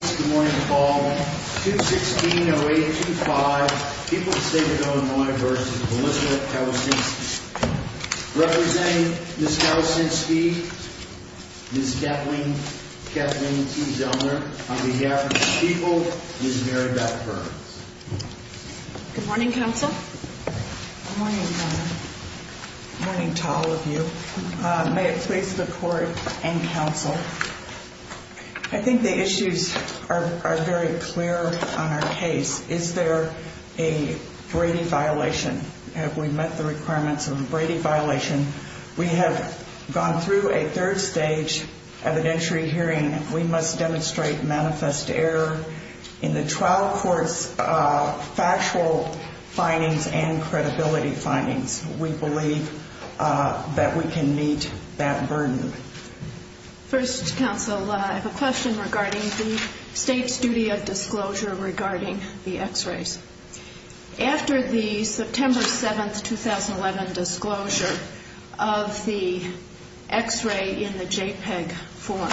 Good morning, all. 216-0825. People of the State of Illinois v. Melissa Calusinski. Representing Ms. Calusinski, Ms. Kathleen T. Zellner. On behalf of the people, Ms. Mary Beth Burns. Good morning, Counsel. Good morning, Governor. Good morning to all of you. May it please the Court and Counsel. I think the issues are very clear on our case. Is there a Brady violation? Have we met the requirements of a Brady violation? We have gone through a third stage evidentiary hearing. We must demonstrate manifest error in the trial court's factual findings and credibility findings. We believe that we can meet that burden. First, Counsel, I have a question regarding the State's duty of disclosure regarding the x-rays. After the September 7, 2011, disclosure of the x-ray in the JPEG form,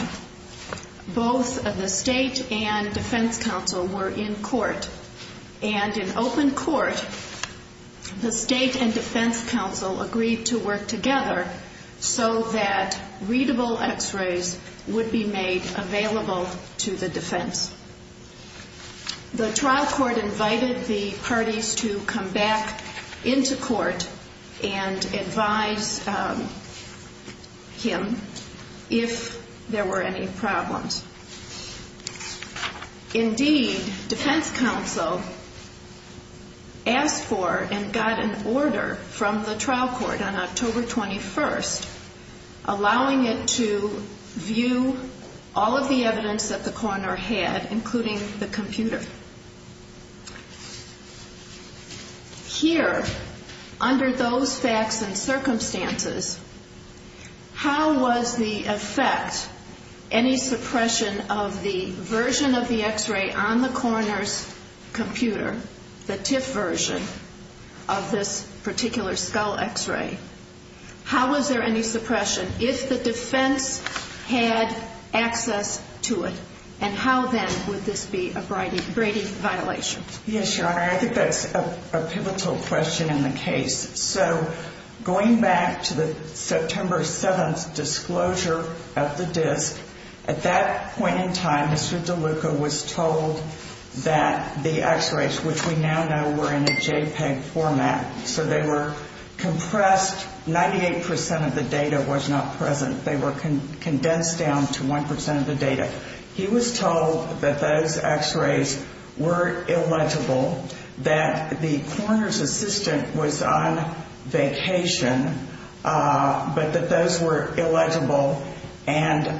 both the State and Defense Counsel were in court. And in open court, the State and Defense Counsel agreed to work together so that readable x-rays would be made available to the defense. The trial court invited the parties to come back into court and advise him if there were any problems. Indeed, Defense Counsel asked for and got an order from the trial court on October 21, allowing it to view all of the evidence that the coroner had, including the computer. Here, under those facts and circumstances, how was the effect, any suppression of the version of the x-ray on the coroner's computer, the TIFF version of this particular skull x-ray, how was there any suppression if the defense had access to it? And how, then, would this be a Brady violation? Yes, Your Honor, I think that's a pivotal question in the case. So going back to the September 7 disclosure of the disk, at that point in time, Mr. DeLuca was told that the x-rays, which we now know were in a JPEG format, so they were compressed, 98% of the data was not present. They were condensed down to 1% of the data. He was told that those x-rays were illegible, that the coroner's assistant was on vacation, but that those were illegible, and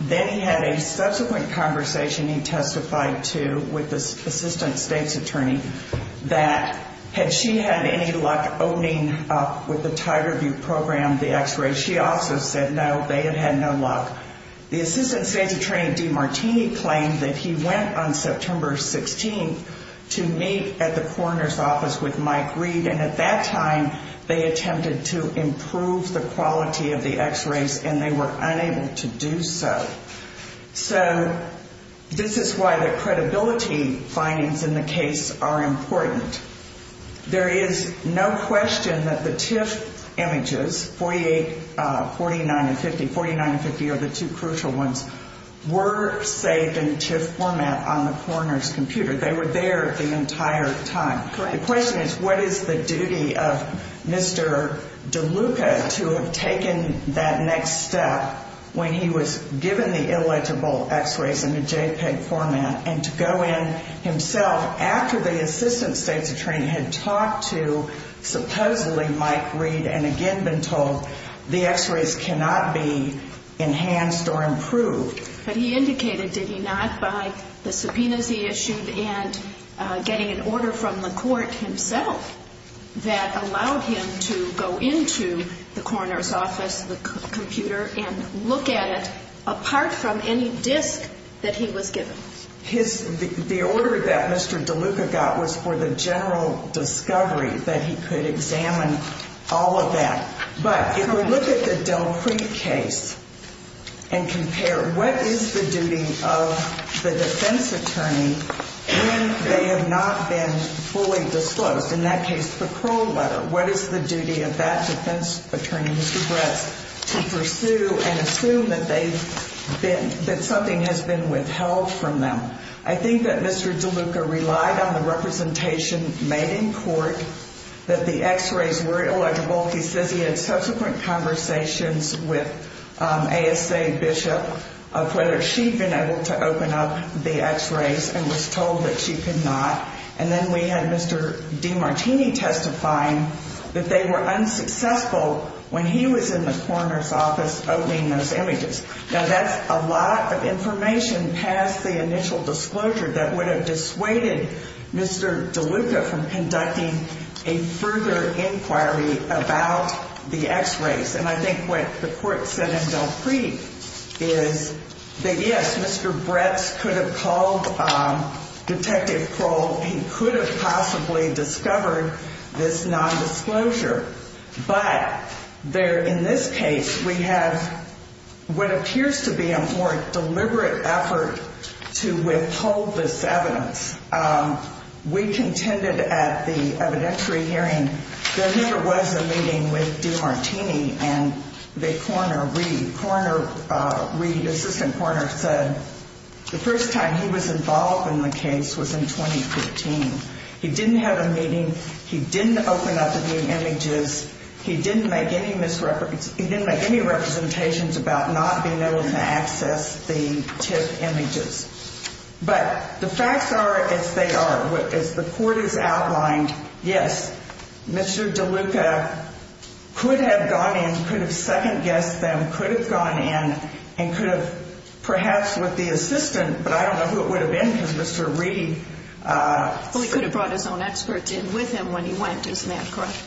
then he had a subsequent conversation, he testified to with the assistant state's attorney, that had she had any luck opening up with the Tiger View program the x-rays, she also said no, they had had no luck. The assistant state's attorney, Dee Martini, claimed that he went on September 16 to meet at the coroner's office with Mike Reed, and at that time, they attempted to improve the quality of the x-rays, and they were unable to do so. So this is why the credibility findings in the case are important. There is no question that the TIFF images, 48, 49, and 50, 49 and 50 are the two crucial ones, were saved in TIFF format on the coroner's computer. They were there the entire time. The question is, what is the duty of Mr. DeLuca to have taken that next step when he was given the illegible x-rays in a JPEG format, and to go in himself after the assistant state's attorney had talked to supposedly Mike Reed, and again been told the x-rays cannot be enhanced or improved. But he indicated, did he not, by the subpoenas he issued and getting an order from the court himself, that allowed him to go into the coroner's office, the computer, and look at it apart from any disk that he was given? The order that Mr. DeLuca got was for the general discovery that he could examine all of that. But if we look at the Delcrete case and compare, what is the duty of the defense attorney when they have not been fully disclosed? In that case, the parole letter. What is the duty of that defense attorney, Mr. Bretz, to pursue and assume that something has been withheld from them? I think that Mr. DeLuca relied on the representation made in court that the x-rays were illegible. He says he had subsequent conversations with ASA Bishop of whether she'd been able to open up the x-rays and was told that she could not. And then we had Mr. DeMartini testifying that they were unsuccessful when he was in the coroner's office opening those images. Now, that's a lot of information past the initial disclosure that would have dissuaded Mr. DeLuca from conducting a further inquiry about the x-rays. And I think what the court said in Delcrete is that, yes, Mr. Bretz could have called Detective Kroll. He could have possibly discovered this nondisclosure. But there in this case, we have what appears to be a more deliberate effort to withhold this evidence. We contended at the evidentiary hearing there never was a meeting with DeMartini and the coroner, Reed. Coroner Reed, Assistant Coroner, said the first time he was involved in the case was in 2015. He didn't have a meeting. He didn't open up the new images. He didn't make any misrepresentations. He didn't make any representations about not being able to access the TIF images. But the facts are as they are. As the court has outlined, yes, Mr. DeLuca could have gone in, could have second-guessed them, could have gone in, and could have perhaps with the assistant. But I don't know who it would have been because Mr. Reed – Well, he could have brought his own experts in with him when he went, isn't that correct?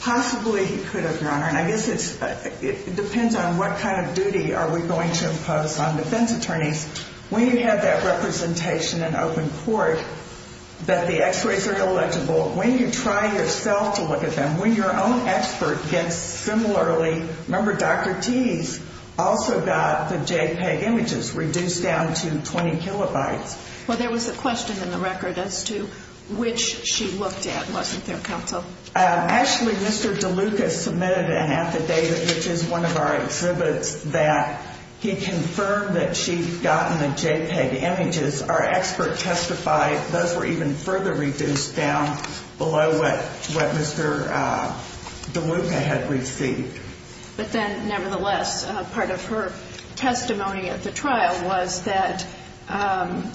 Possibly he could have, Your Honor. And I guess it depends on what kind of duty are we going to impose on defense attorneys. When you have that representation in open court that the x-rays are illegible, when you try yourself to look at them, when your own expert gets similarly – remember, Dr. Tease also got the JPEG images reduced down to 20 kilobytes. Well, there was a question in the record as to which she looked at, wasn't there, counsel? Actually, Mr. DeLuca submitted an affidavit, which is one of our exhibits, that he confirmed that she'd gotten the JPEG images. Our expert testified those were even further reduced down below what Mr. DeLuca had received. But then, nevertheless, part of her testimony at the trial was that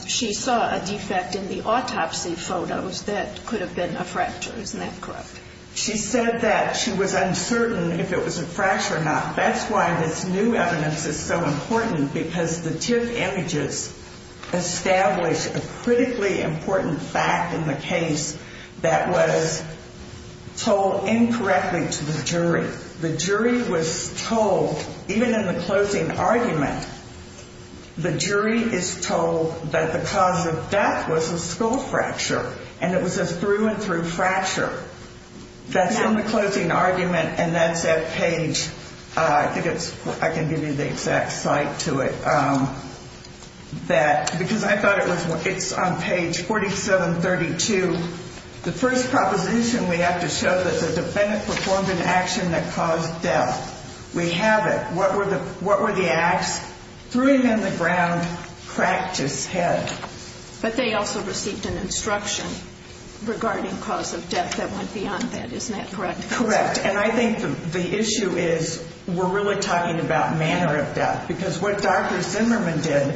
she saw a defect in the autopsy photos that could have been a fracture. Isn't that correct? She said that she was uncertain if it was a fracture or not. That's why this new evidence is so important, because the TIFF images establish a critically important fact in the case that was told incorrectly to the jury. The jury was told, even in the closing argument, the jury is told that the cause of death was a skull fracture, and it was a through-and-through fracture. That's in the closing argument, and that's at page – I think it's – I can give you the exact site to it. Because I thought it was – it's on page 4732. The first proposition we have to show that the defendant performed an action that caused death. We have it. What were the acts? Threw him in the ground, cracked his head. But they also received an instruction regarding cause of death that went beyond that. Isn't that correct? Correct. And I think the issue is we're really talking about manner of death, because what Dr. Zimmerman did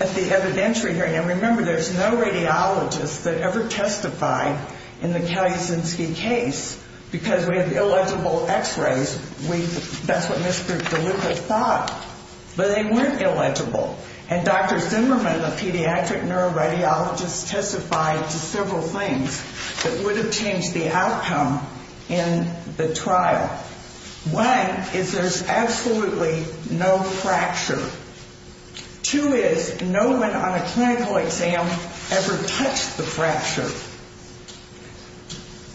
at the evidentiary hearing – and remember, there's no radiologist that ever testified in the Kalisinski case, because we have illegible X-rays. We – that's what Mr. DeLuca thought. But they weren't illegible. And Dr. Zimmerman, a pediatric neuroradiologist, testified to several things that would have changed the outcome in the trial. One is there's absolutely no fracture. Two is no one on a clinical exam ever touched the fracture.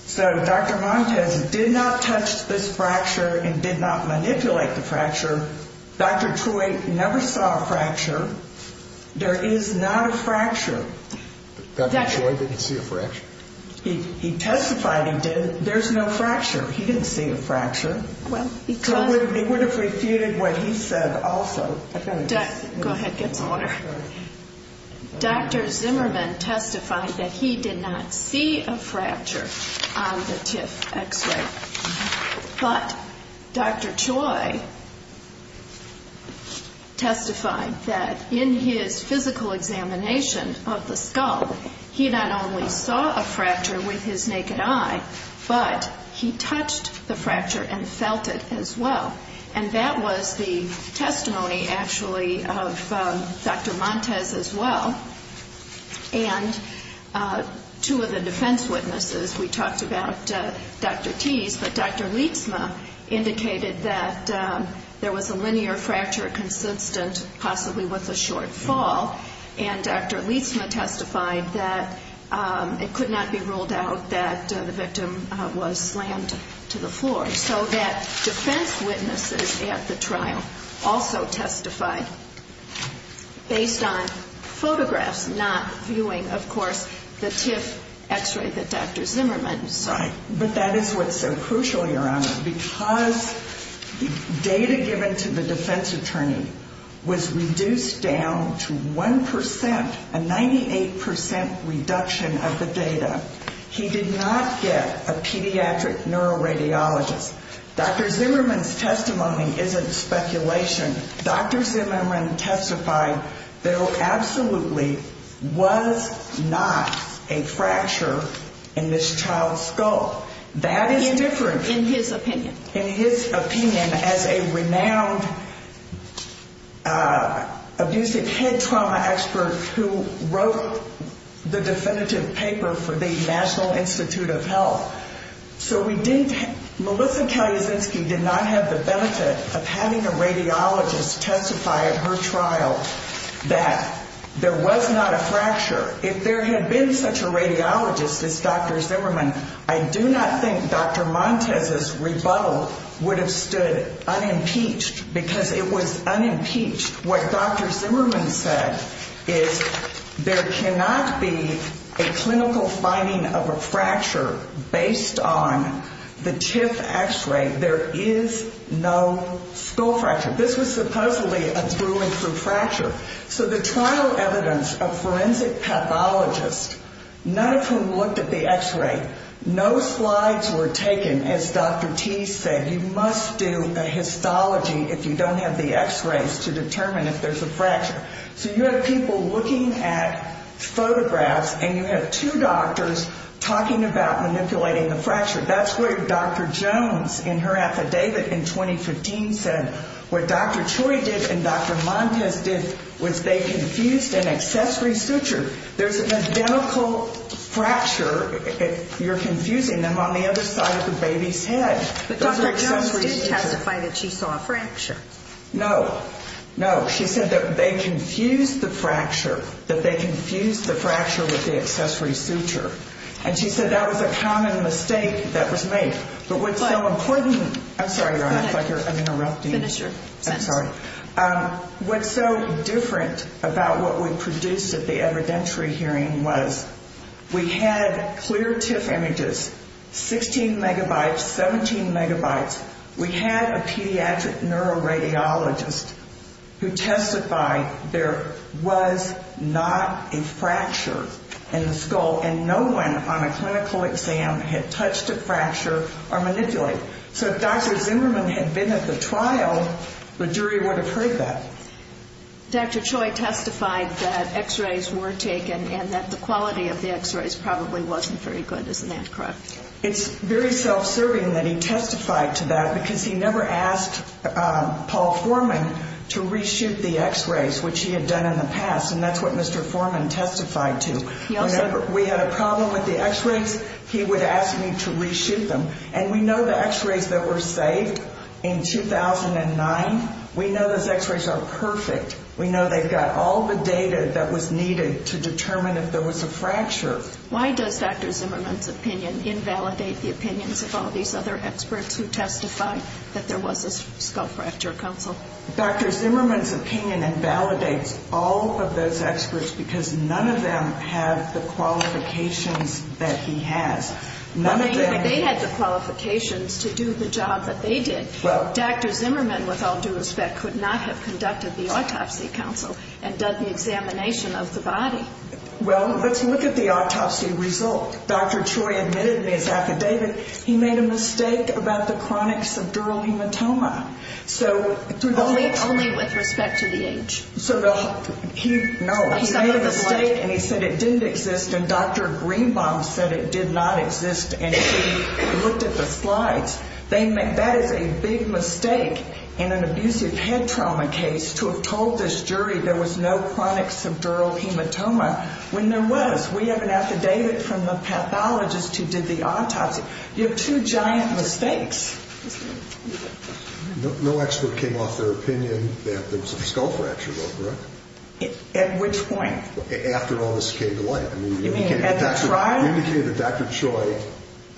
So Dr. Montes did not touch this fracture and did not manipulate the fracture. Dr. Choi never saw a fracture. There is not a fracture. Dr. Choi didn't see a fracture? He testified he did. There's no fracture. He didn't see a fracture. Well, because – So he would have refuted what he said also. Go ahead. Get some water. Dr. Zimmerman testified that he did not see a fracture on the TIFF X-ray. But Dr. Choi testified that in his physical examination of the skull, he not only saw a fracture with his naked eye, but he touched the fracture and felt it as well. And that was the testimony, actually, of Dr. Montes as well. And two of the defense witnesses, we talked about Dr. Teese, but Dr. Lietzma indicated that there was a linear fracture consistent possibly with a short fall. And Dr. Lietzma testified that it could not be ruled out that the victim was slammed to the floor. And so that defense witnesses at the trial also testified based on photographs, not viewing, of course, the TIFF X-ray that Dr. Zimmerman saw. Right. But that is what's so crucial, Your Honor, because the data given to the defense attorney was reduced down to 1%, a 98% reduction of the data. He did not get a pediatric neuroradiologist. Dr. Zimmerman's testimony isn't speculation. Dr. Zimmerman testified there absolutely was not a fracture in this child's skull. That is different. In his opinion. And as a renowned abusive head trauma expert who wrote the definitive paper for the National Institute of Health. So we didn't have the benefit of having a radiologist testify at her trial that there was not a fracture. If there had been such a radiologist as Dr. Zimmerman, I do not think Dr. Montez's rebuttal would have stood unimpeached because it was unimpeached. What Dr. Zimmerman said is there cannot be a clinical finding of a fracture based on the TIFF X-ray. There is no skull fracture. This was supposedly a through and through fracture. So the trial evidence of forensic pathologists, none of whom looked at the X-ray, no slides were taken, as Dr. Teese said. You must do a histology if you don't have the X-rays to determine if there's a fracture. So you have people looking at photographs and you have two doctors talking about manipulating a fracture. That's what Dr. Jones in her affidavit in 2015 said. What Dr. Choi did and Dr. Montez did was they confused an accessory suture. There's an identical fracture if you're confusing them on the other side of the baby's head. But Dr. Jones didn't testify that she saw a fracture. No, no. She said that they confused the fracture, that they confused the fracture with the accessory suture. And she said that was a common mistake that was made. But what's so important, I'm sorry, Your Honor, I feel like I'm interrupting. Finish your sentence. I'm sorry. What's so different about what we produced at the evidentiary hearing was we had clear TIFF images, 16 megabytes, 17 megabytes. We had a pediatric neuroradiologist who testified there was not a fracture in the skull. And no one on a clinical exam had touched a fracture or manipulated it. So if Dr. Zimmerman had been at the trial, the jury would have heard that. Dr. Choi testified that X-rays were taken and that the quality of the X-rays probably wasn't very good. Isn't that correct? It's very self-serving that he testified to that because he never asked Paul Foreman to reshoot the X-rays, which he had done in the past, and that's what Mr. Foreman testified to. Whenever we had a problem with the X-rays, he would ask me to reshoot them. And we know the X-rays that were saved in 2009, we know those X-rays are perfect. We know they've got all the data that was needed to determine if there was a fracture. Why does Dr. Zimmerman's opinion invalidate the opinions of all these other experts who testified that there was a skull fracture, counsel? Dr. Zimmerman's opinion invalidates all of those experts because none of them have the qualifications that he has. They had the qualifications to do the job that they did. Dr. Zimmerman, with all due respect, could not have conducted the autopsy, counsel, and done the examination of the body. Well, let's look at the autopsy result. Dr. Choi admitted in his affidavit he made a mistake about the chronic subdural hematoma. Only with respect to the age. No, he made a mistake and he said it didn't exist, and Dr. Greenbaum said it did not exist, and she looked at the slides. That is a big mistake in an abusive head trauma case to have told this jury there was no chronic subdural hematoma when there was. We have an affidavit from the pathologist who did the autopsy. You have two giant mistakes. No expert came off their opinion that there was a skull fracture, though, correct? At which point? After all this came to light. You mean at the trial? He indicated that Dr. Choi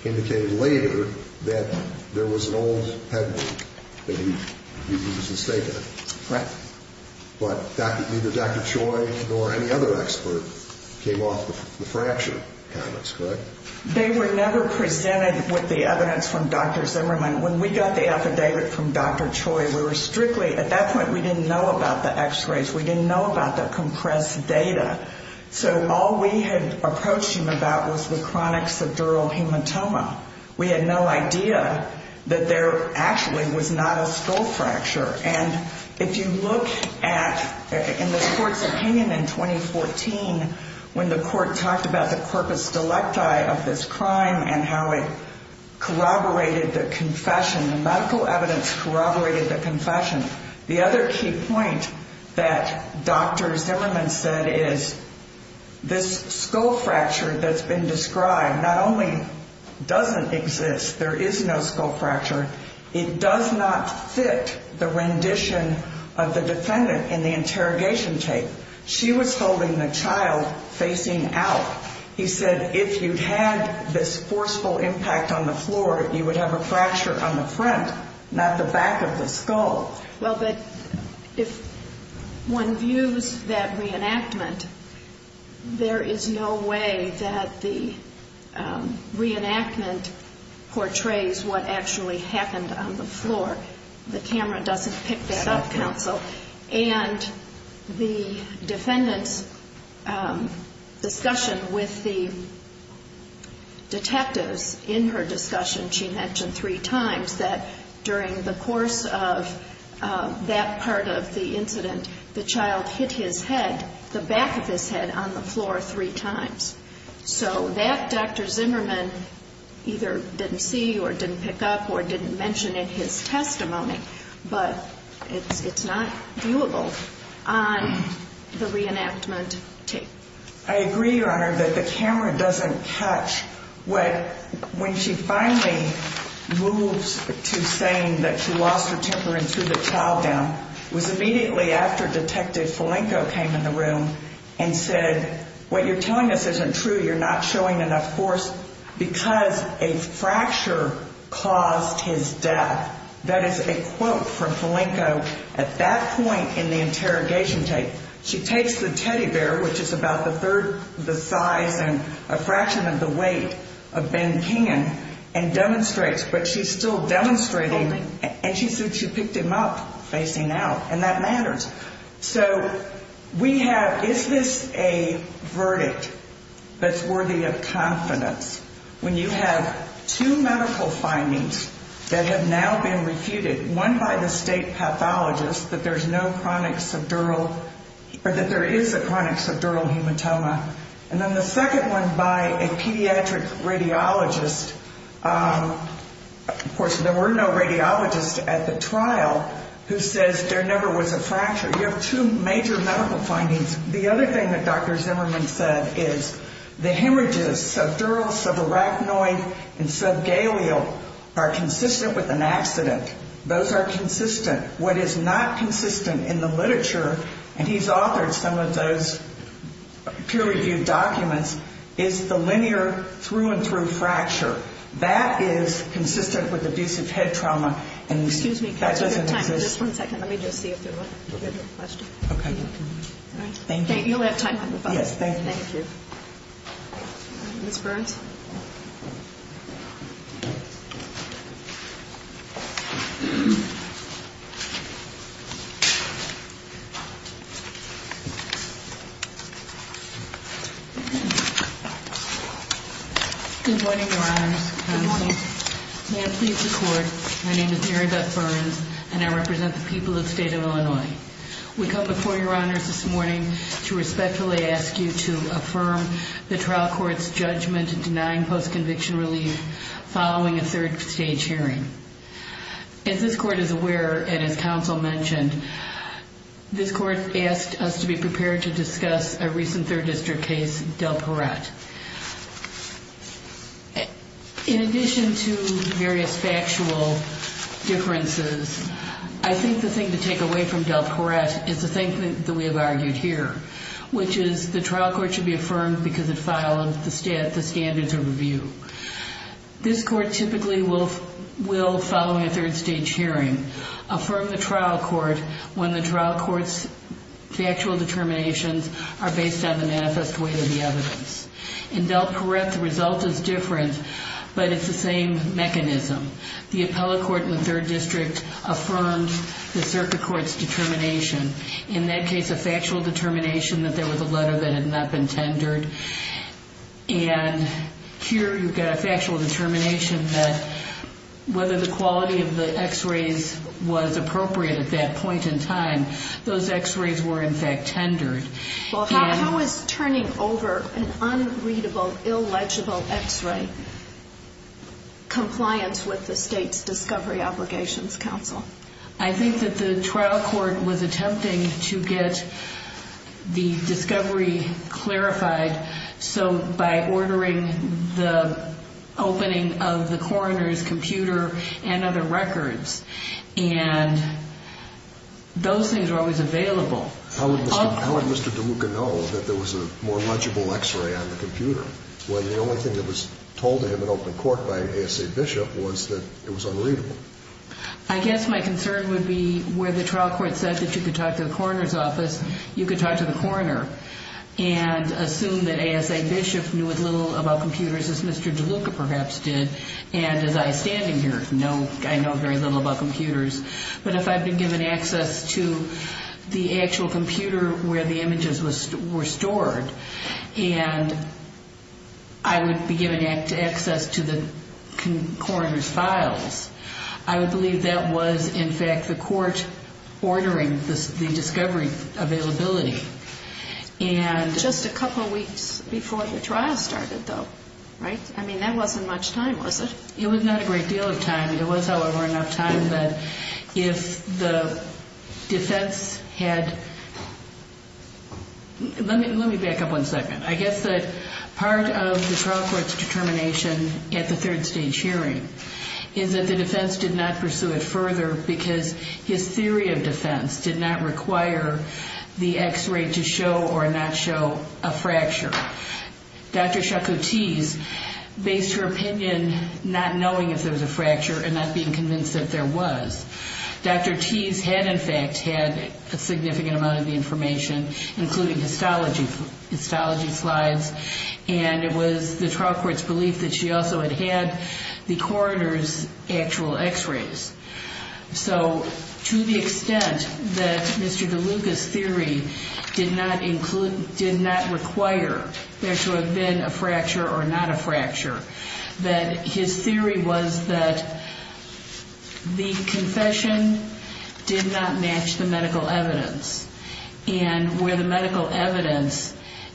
indicated later that there was an old head wound that he was mistaken. Right. But neither Dr. Choi nor any other expert came off the fracture comments, correct? They were never presented with the evidence from Dr. Zimmerman. When we got the affidavit from Dr. Choi, we were strictly at that point we didn't know about the x-rays. We didn't know about the compressed data. So all we had approached him about was the chronic subdural hematoma. We had no idea that there actually was not a skull fracture. And if you look at, in the court's opinion in 2014, when the court talked about the corpus delicti of this crime and how it corroborated the confession, the medical evidence corroborated the confession, the other key point that Dr. Zimmerman said is this skull fracture that's been described not only doesn't exist, there is no skull fracture, it does not fit the rendition of the defendant in the interrogation tape. She was holding the child facing out. He said if you had this forceful impact on the floor, you would have a fracture on the front, not the back of the skull. Well, but if one views that reenactment, there is no way that the reenactment portrays what actually happened on the floor. The camera doesn't pick that up, counsel. And the defendant's discussion with the detectives in her discussion, she mentioned three times that during the course of that part of the incident, the child hit his head, the back of his head, on the floor three times. So that Dr. Zimmerman either didn't see or didn't pick up or didn't mention in his testimony, but it's not viewable on the reenactment tape. I agree, Your Honor, that the camera doesn't catch what when she finally moves to saying that she lost her temper and threw the child down was immediately after Detective Falenco came in the room and said, what you're telling us isn't true. You're not showing enough force because a fracture caused his death. That is a quote from Falenco at that point in the interrogation tape. She takes the teddy bear, which is about a third the size and a fraction of the weight of Ben Kingan, and demonstrates, but she's still demonstrating, and she said she picked him up facing out, and that matters. So we have, is this a verdict that's worthy of confidence? When you have two medical findings that have now been refuted, one by the state pathologist that there's no chronic subdural or that there is a chronic subdural hematoma, and then the second one by a pediatric radiologist, of course, there were no radiologists at the trial, who says there never was a fracture. You have two major medical findings. The other thing that Dr. Zimmerman said is the hemorrhages, subdural, subarachnoid, and subgaleal, are consistent with an accident. Those are consistent. What is not consistent in the literature, and he's authored some of those peer-reviewed documents, is the linear through-and-through fracture. That is consistent with abusive head trauma, and that doesn't exist. Excuse me, could I give you time for just one second? Let me just see if there was a question. Okay. Thank you. You'll have time to move on. Yes, thank you. Thank you. Ms. Burns? Good morning, Your Honors. Good morning. May I please record, my name is Mary Beth Burns, and I represent the people of the state of Illinois. We come before Your Honors this morning to respectfully ask you to affirm the trial court's judgment in denying post-conviction relief following a third-stage hearing. As this court is aware, and as counsel mentioned, this court asked us to be prepared to discuss a recent third-district case, Del Perret. In addition to various factual differences, I think the thing to take away from Del Perret is the thing that we have argued here, which is the trial court should be affirmed because it followed the standards of review. This court typically will, following a third-stage hearing, affirm the trial court when the trial court's factual determinations are based on the manifest weight of the evidence. In Del Perret, the result is different, but it's the same mechanism. The appellate court in the third district affirmed the circuit court's determination, in that case a factual determination that there was a letter that had not been tendered. And here you've got a factual determination that whether the quality of the X-rays was appropriate at that point in time, those X-rays were in fact tendered. Well, how is turning over an unreadable, illegible X-ray compliant with the state's discovery obligations, counsel? I think that the trial court was attempting to get the discovery clarified by ordering the opening of the coroner's computer and other records. And those things are always available. How would Mr. DeLuca know that there was a more legible X-ray on the computer when the only thing that was told to him in open court by A.S.A. Bishop was that it was unreadable? I guess my concern would be where the trial court said that you could talk to the coroner's office, you could talk to the coroner and assume that A.S.A. Bishop knew as little about computers as Mr. DeLuca perhaps did, and as I, standing here, know very little about computers. But if I'd been given access to the actual computer where the images were stored and I would be given access to the coroner's files, I would believe that was in fact the court ordering the discovery availability. Just a couple weeks before the trial started, though, right? I mean, that wasn't much time, was it? It was not a great deal of time. There was, however, enough time that if the defense had, let me back up one second. I guess that part of the trial court's determination at the third stage hearing is that the defense did not pursue it further because his theory of defense did not require the X-ray to show or not show a fracture. Dr. Chakoutis based her opinion not knowing if there was a fracture and not being convinced that there was. Dr. Tease had, in fact, had a significant amount of the information, including histology slides, and it was the trial court's belief that she also had had the coroner's actual X-rays. So to the extent that Mr. DeLuca's theory did not require there to have been a fracture or not a fracture, that his theory was that the confession did not match the medical evidence and where the medical evidence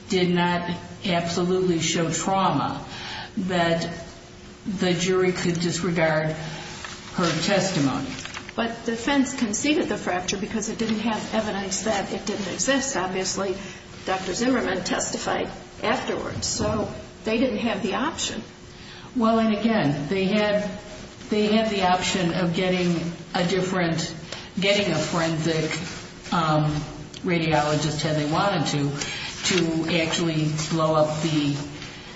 did not absolutely show trauma, that the jury could disregard her testimony. But defense conceded the fracture because it didn't have evidence that it didn't exist. Obviously, Dr. Zimmerman testified afterwards. So they didn't have the option. Well, and again, they had the option of getting a different, getting a forensic radiologist, had they wanted to, to actually blow up the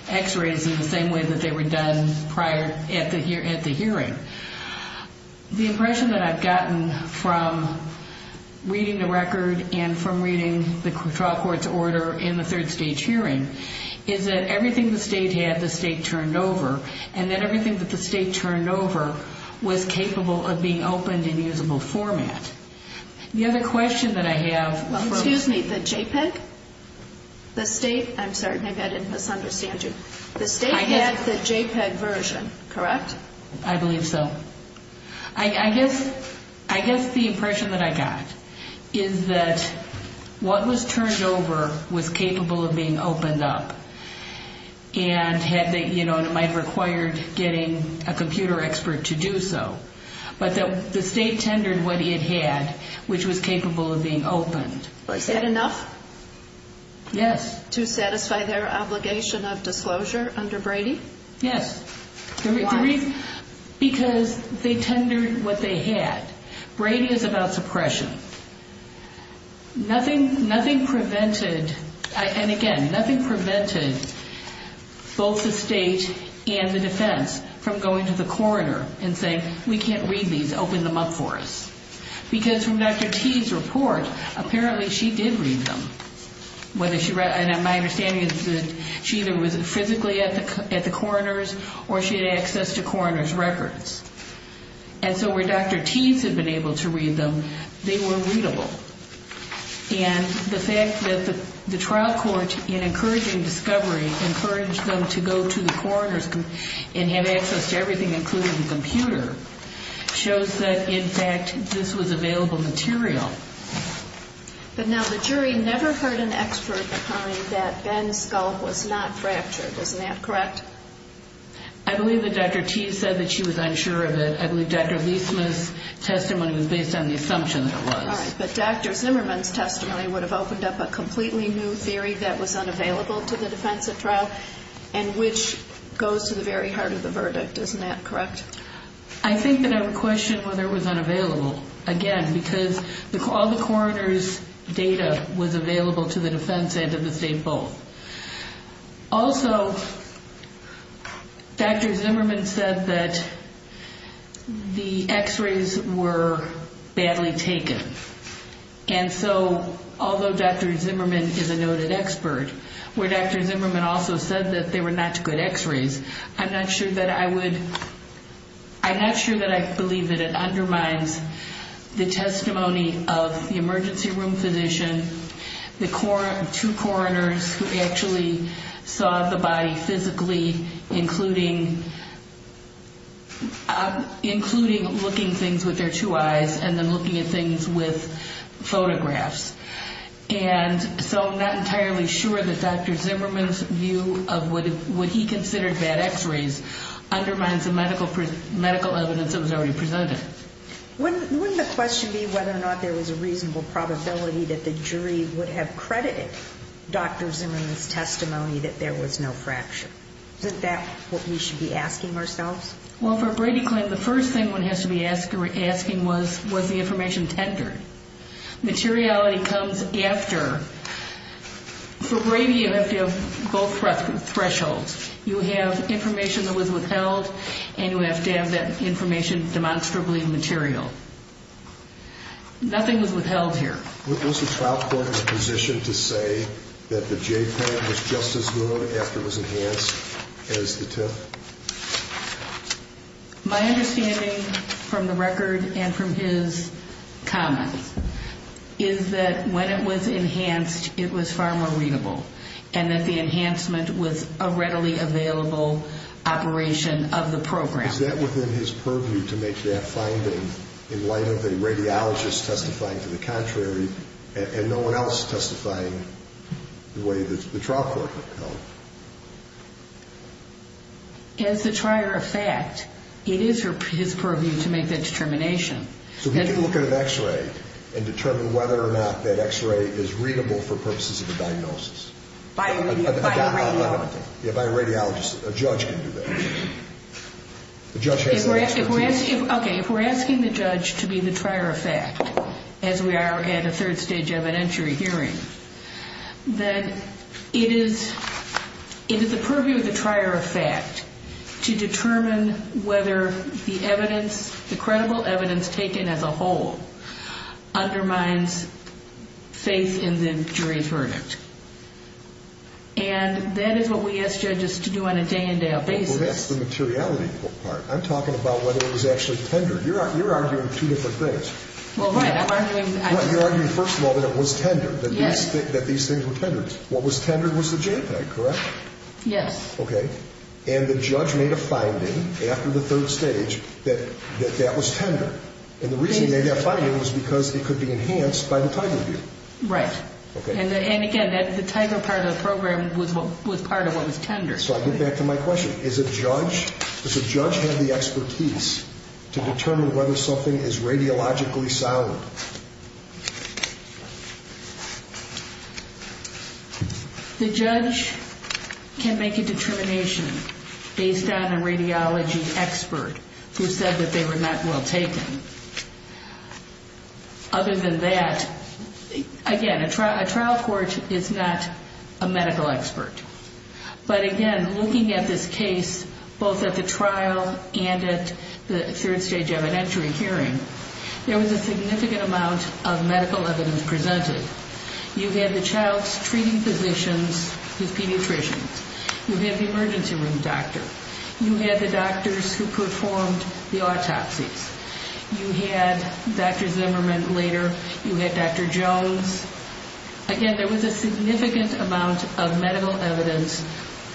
X-rays in the same way that they were done prior, at the hearing. The impression that I've gotten from reading the record and from reading the trial court's order in the third stage hearing is that everything the state had, the state turned over, and that everything that the state turned over was capable of being opened in usable format. The other question that I have... Well, excuse me, the JPEG? The state, I'm sorry, maybe I didn't misunderstand you. The state had the JPEG version, correct? I believe so. I guess the impression that I got is that what was turned over was capable of being opened up and it might have required getting a computer expert to do so. But the state tendered what it had, which was capable of being opened. Was that enough? Yes. To satisfy their obligation of disclosure under Brady? Yes. Why? Because they tendered what they had. Brady is about suppression. Nothing prevented, and again, nothing prevented both the state and the defense from going to the coroner and saying, we can't read these, open them up for us. Because from Dr. Teed's report, apparently she did read them. And my understanding is that she either was physically at the coroner's or she had access to coroner's records. And so where Dr. Teed's had been able to read them, they were readable. And the fact that the trial court, in encouraging discovery, encouraged them to go to the coroner's and have access to everything, including the computer, shows that, in fact, this was available material. But now the jury never heard an expert that Ben's skull was not fractured, isn't that correct? I believe that Dr. Teed said that she was unsure of it. I believe Dr. Leisman's testimony was based on the assumption that it was. All right. But Dr. Zimmerman's testimony would have opened up a completely new theory that was unavailable to the defense at trial, and which goes to the very heart of the verdict, isn't that correct? I think that I would question whether it was unavailable, again, because all the coroner's data was available to the defense and to the state both. Also, Dr. Zimmerman said that the X-rays were badly taken. And so, although Dr. Zimmerman is a noted expert, where Dr. Zimmerman also said that they were not good X-rays, I'm not sure that I believe that it undermines the testimony of the emergency room physician, the two coroners who actually saw the body physically, including looking things with their two eyes and then looking at things with photographs. And so I'm not entirely sure that Dr. Zimmerman's view of what he considered bad X-rays undermines the medical evidence that was already presented. Wouldn't the question be whether or not there was a reasonable probability that the jury would have credited Dr. Zimmerman's testimony that there was no fracture? Isn't that what we should be asking ourselves? Well, for a Brady claim, the first thing one has to be asking was, was the information tendered? Materiality comes after. For Brady, you have to have both thresholds. You have information that was withheld, and you have to have that information demonstrably material. Nothing was withheld here. Was the trial court in a position to say that the J-plan was just as good after it was enhanced as the TIF? My understanding from the record and from his comments is that when it was enhanced, it was far more readable and that the enhancement was a readily available operation of the program. Is that within his purview to make that finding in light of a radiologist testifying to the contrary and no one else testifying the way that the trial court held? As the trier of fact, it is his purview to make that determination. So we can look at an X-ray and determine whether or not that X-ray is readable for purposes of a diagnosis. By a radiologist. A judge can do that. Okay, if we're asking the judge to be the trier of fact, as we are at a third stage evidentiary hearing, then it is the purview of the trier of fact to determine whether the evidence, the credible evidence taken as a whole, undermines faith in the jury's verdict. And that is what we ask judges to do on a day-in-day-out basis. Well, that's the materiality part. I'm talking about whether it was actually tender. You're arguing two different things. Well, right, I'm arguing... You're arguing, first of all, that it was tender, that these things were tender. What was tender was the JPEG, correct? Yes. Okay. And the judge made a finding after the third stage that that was tender. And the reason he made that finding was because it could be enhanced by the time review. Right. And, again, the tighter part of the program was part of what was tender. So I get back to my question. Does a judge have the expertise to determine whether something is radiologically solid? The judge can make a determination based on a radiology expert who said that they were not well taken. Other than that, again, a trial court is not a medical expert. But, again, looking at this case, both at the trial and at the third stage evidentiary hearing, there was a significant amount of medical evidence presented. You had the child's treating physicians, his pediatricians. You had the emergency room doctor. You had the doctors who performed the autopsies. You had Dr. Zimmerman later. You had Dr. Jones. Again, there was a significant amount of medical evidence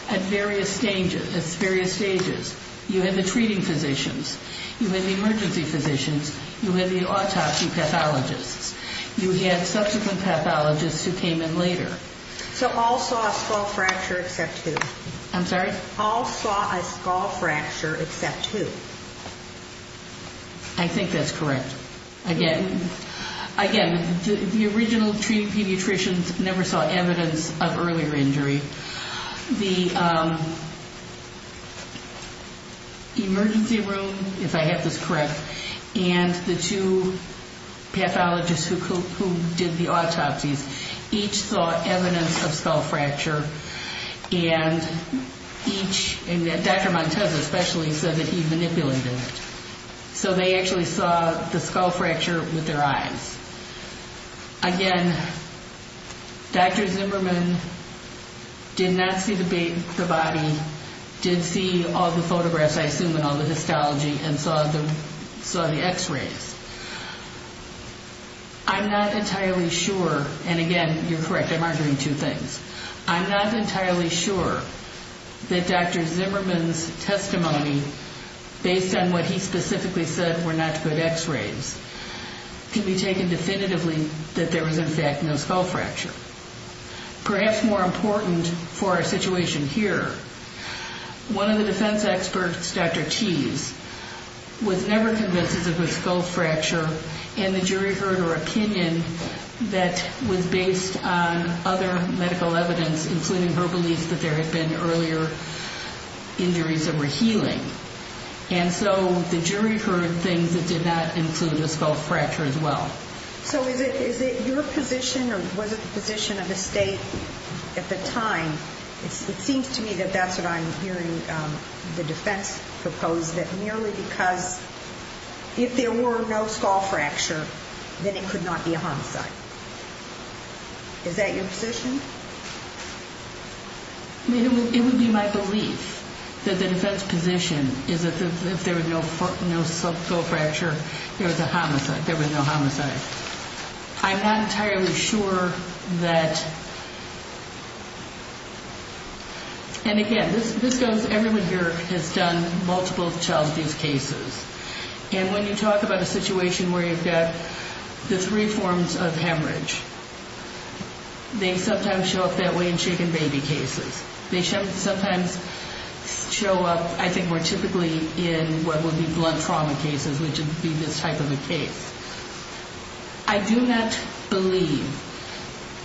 at various stages. You had the treating physicians. You had the emergency physicians. You had the autopsy pathologists. You had subsequent pathologists who came in later. So all saw a skull fracture except who? I'm sorry? All saw a skull fracture except who? I think that's correct. Again, the original treating pediatricians never saw evidence of earlier injury. The emergency room, if I have this correct, and the two pathologists who did the autopsies, each saw evidence of skull fracture. And each, and Dr. Montez especially said that he manipulated it. So they actually saw the skull fracture with their eyes. Again, Dr. Zimmerman did not see the body, did see all the photographs, I assume, and all the histology, and saw the X-rays. I'm not entirely sure, and again, you're correct, I'm arguing two things. I'm not entirely sure that Dr. Zimmerman's testimony, based on what he specifically said were not good X-rays, can be taken definitively that there was, in fact, no skull fracture. Perhaps more important for our situation here, one of the defense experts, Dr. Tease, was never convinced it was a skull fracture, and the jury heard her opinion that was based on other medical evidence, including her belief that there had been earlier injuries that were healing. And so the jury heard things that did not include a skull fracture as well. So is it your position, or was it the position of the state at the time? It seems to me that that's what I'm hearing the defense propose, that merely because if there were no skull fracture, then it could not be a homicide. Is that your position? It would be my belief that the defense position is that if there was no skull fracture, there was a homicide, there was no homicide. I'm not entirely sure that, and again, this goes, everyone here has done multiple child abuse cases, and when you talk about a situation where you've got the three forms of hemorrhage, they sometimes show up that way in shaken baby cases. They sometimes show up, I think, more typically in what would be blood trauma cases, which would be this type of a case. I do not believe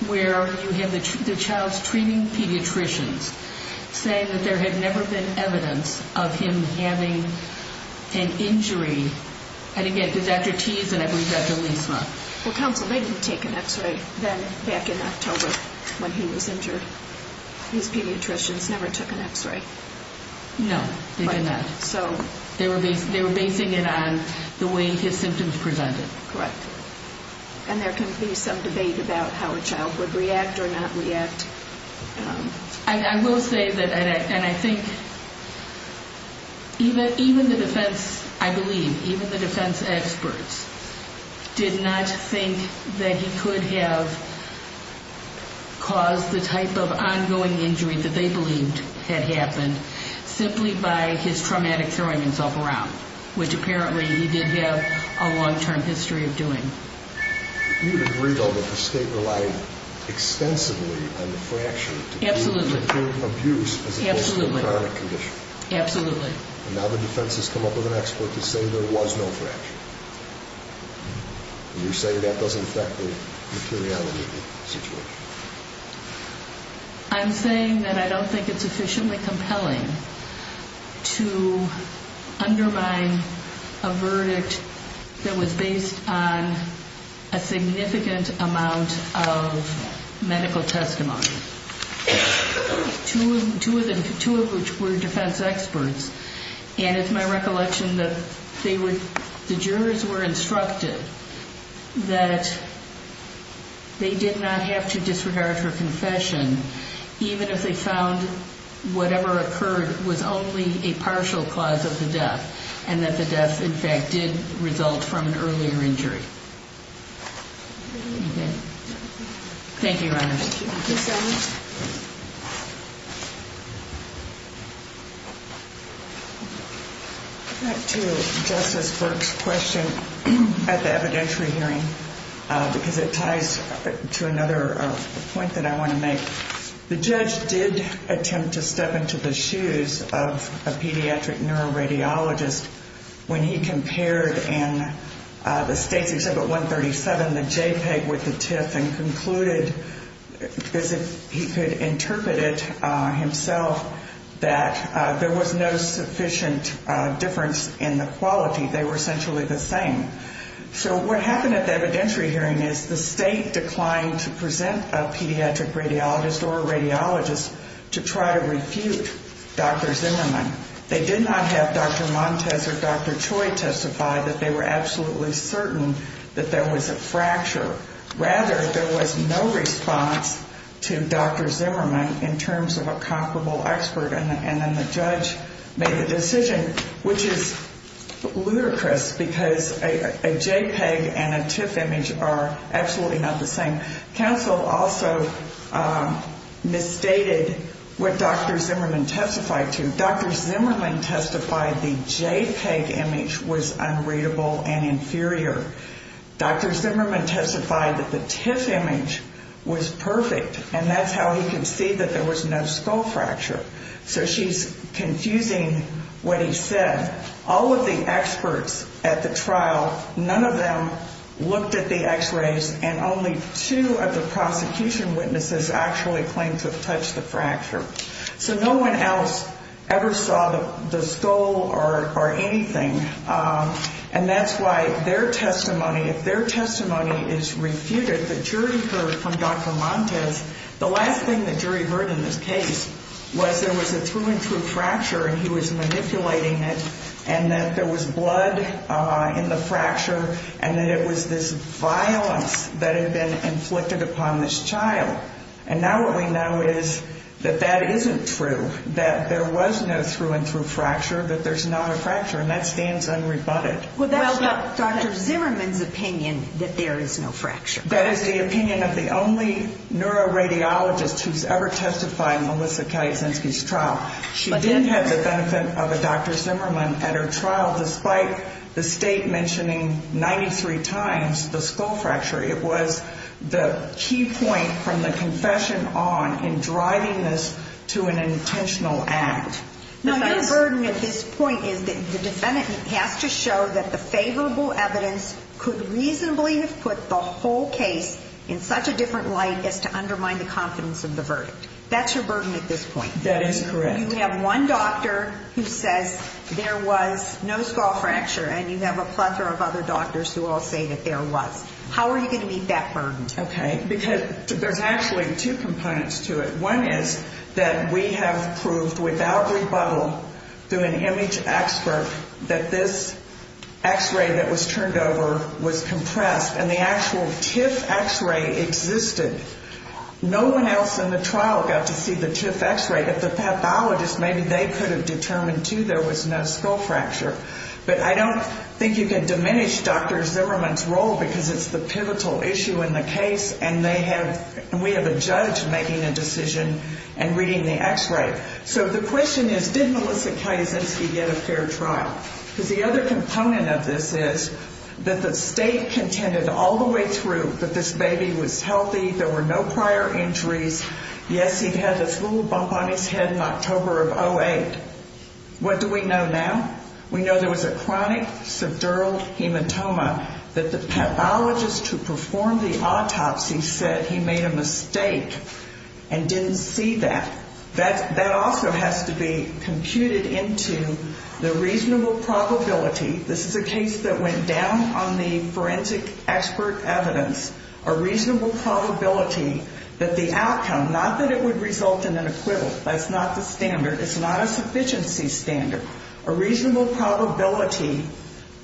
where you have the child's treating pediatricians saying that there had never been evidence of him having an injury. And again, it's after T's, and I believe after Lysma. Well, counsel, they didn't take an X-ray then back in October when he was injured. These pediatricians never took an X-ray. No, they did not. They were basing it on the way his symptoms presented. Correct. And there can be some debate about how a child would react or not react. I will say that, and I think even the defense, I believe, even the defense experts, did not think that he could have caused the type of ongoing injury that they believed had happened simply by his traumatic throwing himself around, which apparently he did have a long-term history of doing. You would agree, though, that the state relied extensively on the fracture to determine abuse as opposed to a chronic condition. Absolutely. And now the defense has come up with an expert to say there was no fracture. And you're saying that doesn't affect the materiality of the situation. I'm saying that I don't think it's sufficiently compelling to undermine a verdict that was based on a significant amount of medical testimony, two of which were defense experts. And it's my recollection that the jurors were instructed that they did not have to disregard for confession even if they found whatever occurred was only a partial cause of the death and that the death, in fact, did result from an earlier injury. Thank you, Your Honor. Thank you so much. Back to Justice Burke's question at the evidentiary hearing, because it ties to another point that I want to make. The judge did attempt to step into the shoes of a pediatric neuroradiologist when he compared in the states except at 137 the JPEG with the TIF and concluded as if he could interpret it himself that there was no sufficient difference in the quality. They were essentially the same. So what happened at the evidentiary hearing is the state declined to present a pediatric radiologist or a radiologist to try to refute Dr. Zimmerman. They did not have Dr. Montes or Dr. Choi testify that they were absolutely certain that there was a fracture. Rather, there was no response to Dr. Zimmerman in terms of a comparable expert. And then the judge made a decision, which is ludicrous, because a JPEG and a TIF image are absolutely not the same. Counsel also misstated what Dr. Zimmerman testified to. Dr. Zimmerman testified the JPEG image was unreadable and inferior. Dr. Zimmerman testified that the TIF image was perfect, and that's how he could see that there was no skull fracture. So she's confusing what he said. All of the experts at the trial, none of them looked at the X-rays, and only two of the prosecution witnesses actually claimed to have touched the fracture. So no one else ever saw the skull or anything. And that's why their testimony, if their testimony is refuted, the jury heard from Dr. Montes, the last thing the jury heard in this case was there was a through-and-through fracture, and he was manipulating it, and that there was blood in the fracture, and that it was this violence that had been inflicted upon this child. And now what we know is that that isn't true, that there was no through-and-through fracture, that there's not a fracture, and that stands unrebutted. Well, that's not Dr. Zimmerman's opinion that there is no fracture. That is the opinion of the only neuroradiologist who's ever testified in Melissa Kalisinski's trial. She did have the benefit of a Dr. Zimmerman at her trial, despite the state mentioning 93 times the skull fracture. It was the key point from the confession on in driving this to an intentional act. Now, your burden at this point is that the defendant has to show that the favorable evidence could reasonably have put the whole case in such a different light as to undermine the confidence of the verdict. That's your burden at this point. That is correct. You have one doctor who says there was no skull fracture, and you have a plethora of other doctors who all say that there was. How are you going to meet that burden? Okay, because there's actually two components to it. One is that we have proved without rebuttal through an image expert that this x-ray that was turned over was compressed, and the actual TIF x-ray existed. No one else in the trial got to see the TIF x-ray. If the pathologist, maybe they could have determined, too, there was no skull fracture. But I don't think you can diminish Dr. Zimmerman's role because it's the pivotal issue in the case, and we have a judge making a decision and reading the x-ray. So the question is, did Melissa Kazinsky get a fair trial? Because the other component of this is that the state contended all the way through that this baby was healthy, there were no prior injuries. Yes, he had this little bump on his head in October of 2008. What do we know now? We know there was a chronic subdural hematoma that the pathologist who performed the autopsy said he made a mistake and didn't see that. That also has to be computed into the reasonable probability, this is a case that went down on the forensic expert evidence, a reasonable probability that the outcome, not that it would result in an acquittal, that's not the standard, it's not a sufficiency standard. A reasonable probability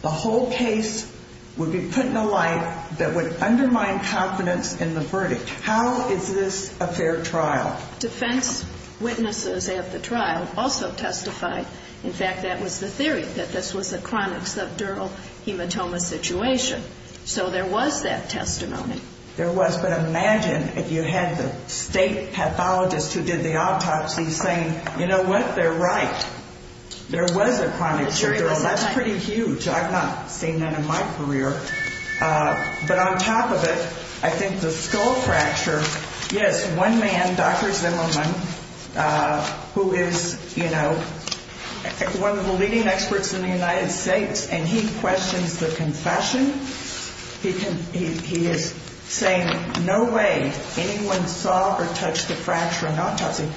the whole case would be put in a light that would undermine confidence in the verdict. How is this a fair trial? Defense witnesses at the trial also testified. In fact, that was the theory, that this was a chronic subdural hematoma situation. So there was that testimony. There was, but imagine if you had the state pathologist who did the autopsy saying, you know what, they're right, there was a chronic subdural. That's pretty huge. I've not seen that in my career. But on top of it, I think the skull fracture, yes, one man, Dr. Zimmerman, who is, you know, one of the leading experts in the United States, and he questions the confession. He is saying no way anyone saw or touched the fracture in autopsy.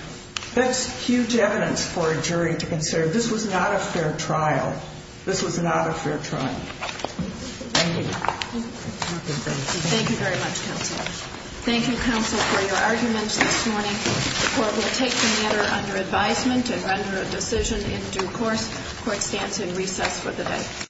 That's huge evidence for a jury to consider. This was not a fair trial. This was not a fair trial. Thank you. Thank you very much, counsel. Thank you, counsel, for your arguments this morning. The court will take the matter under advisement and render a decision in due course. Court stands in recess for the day.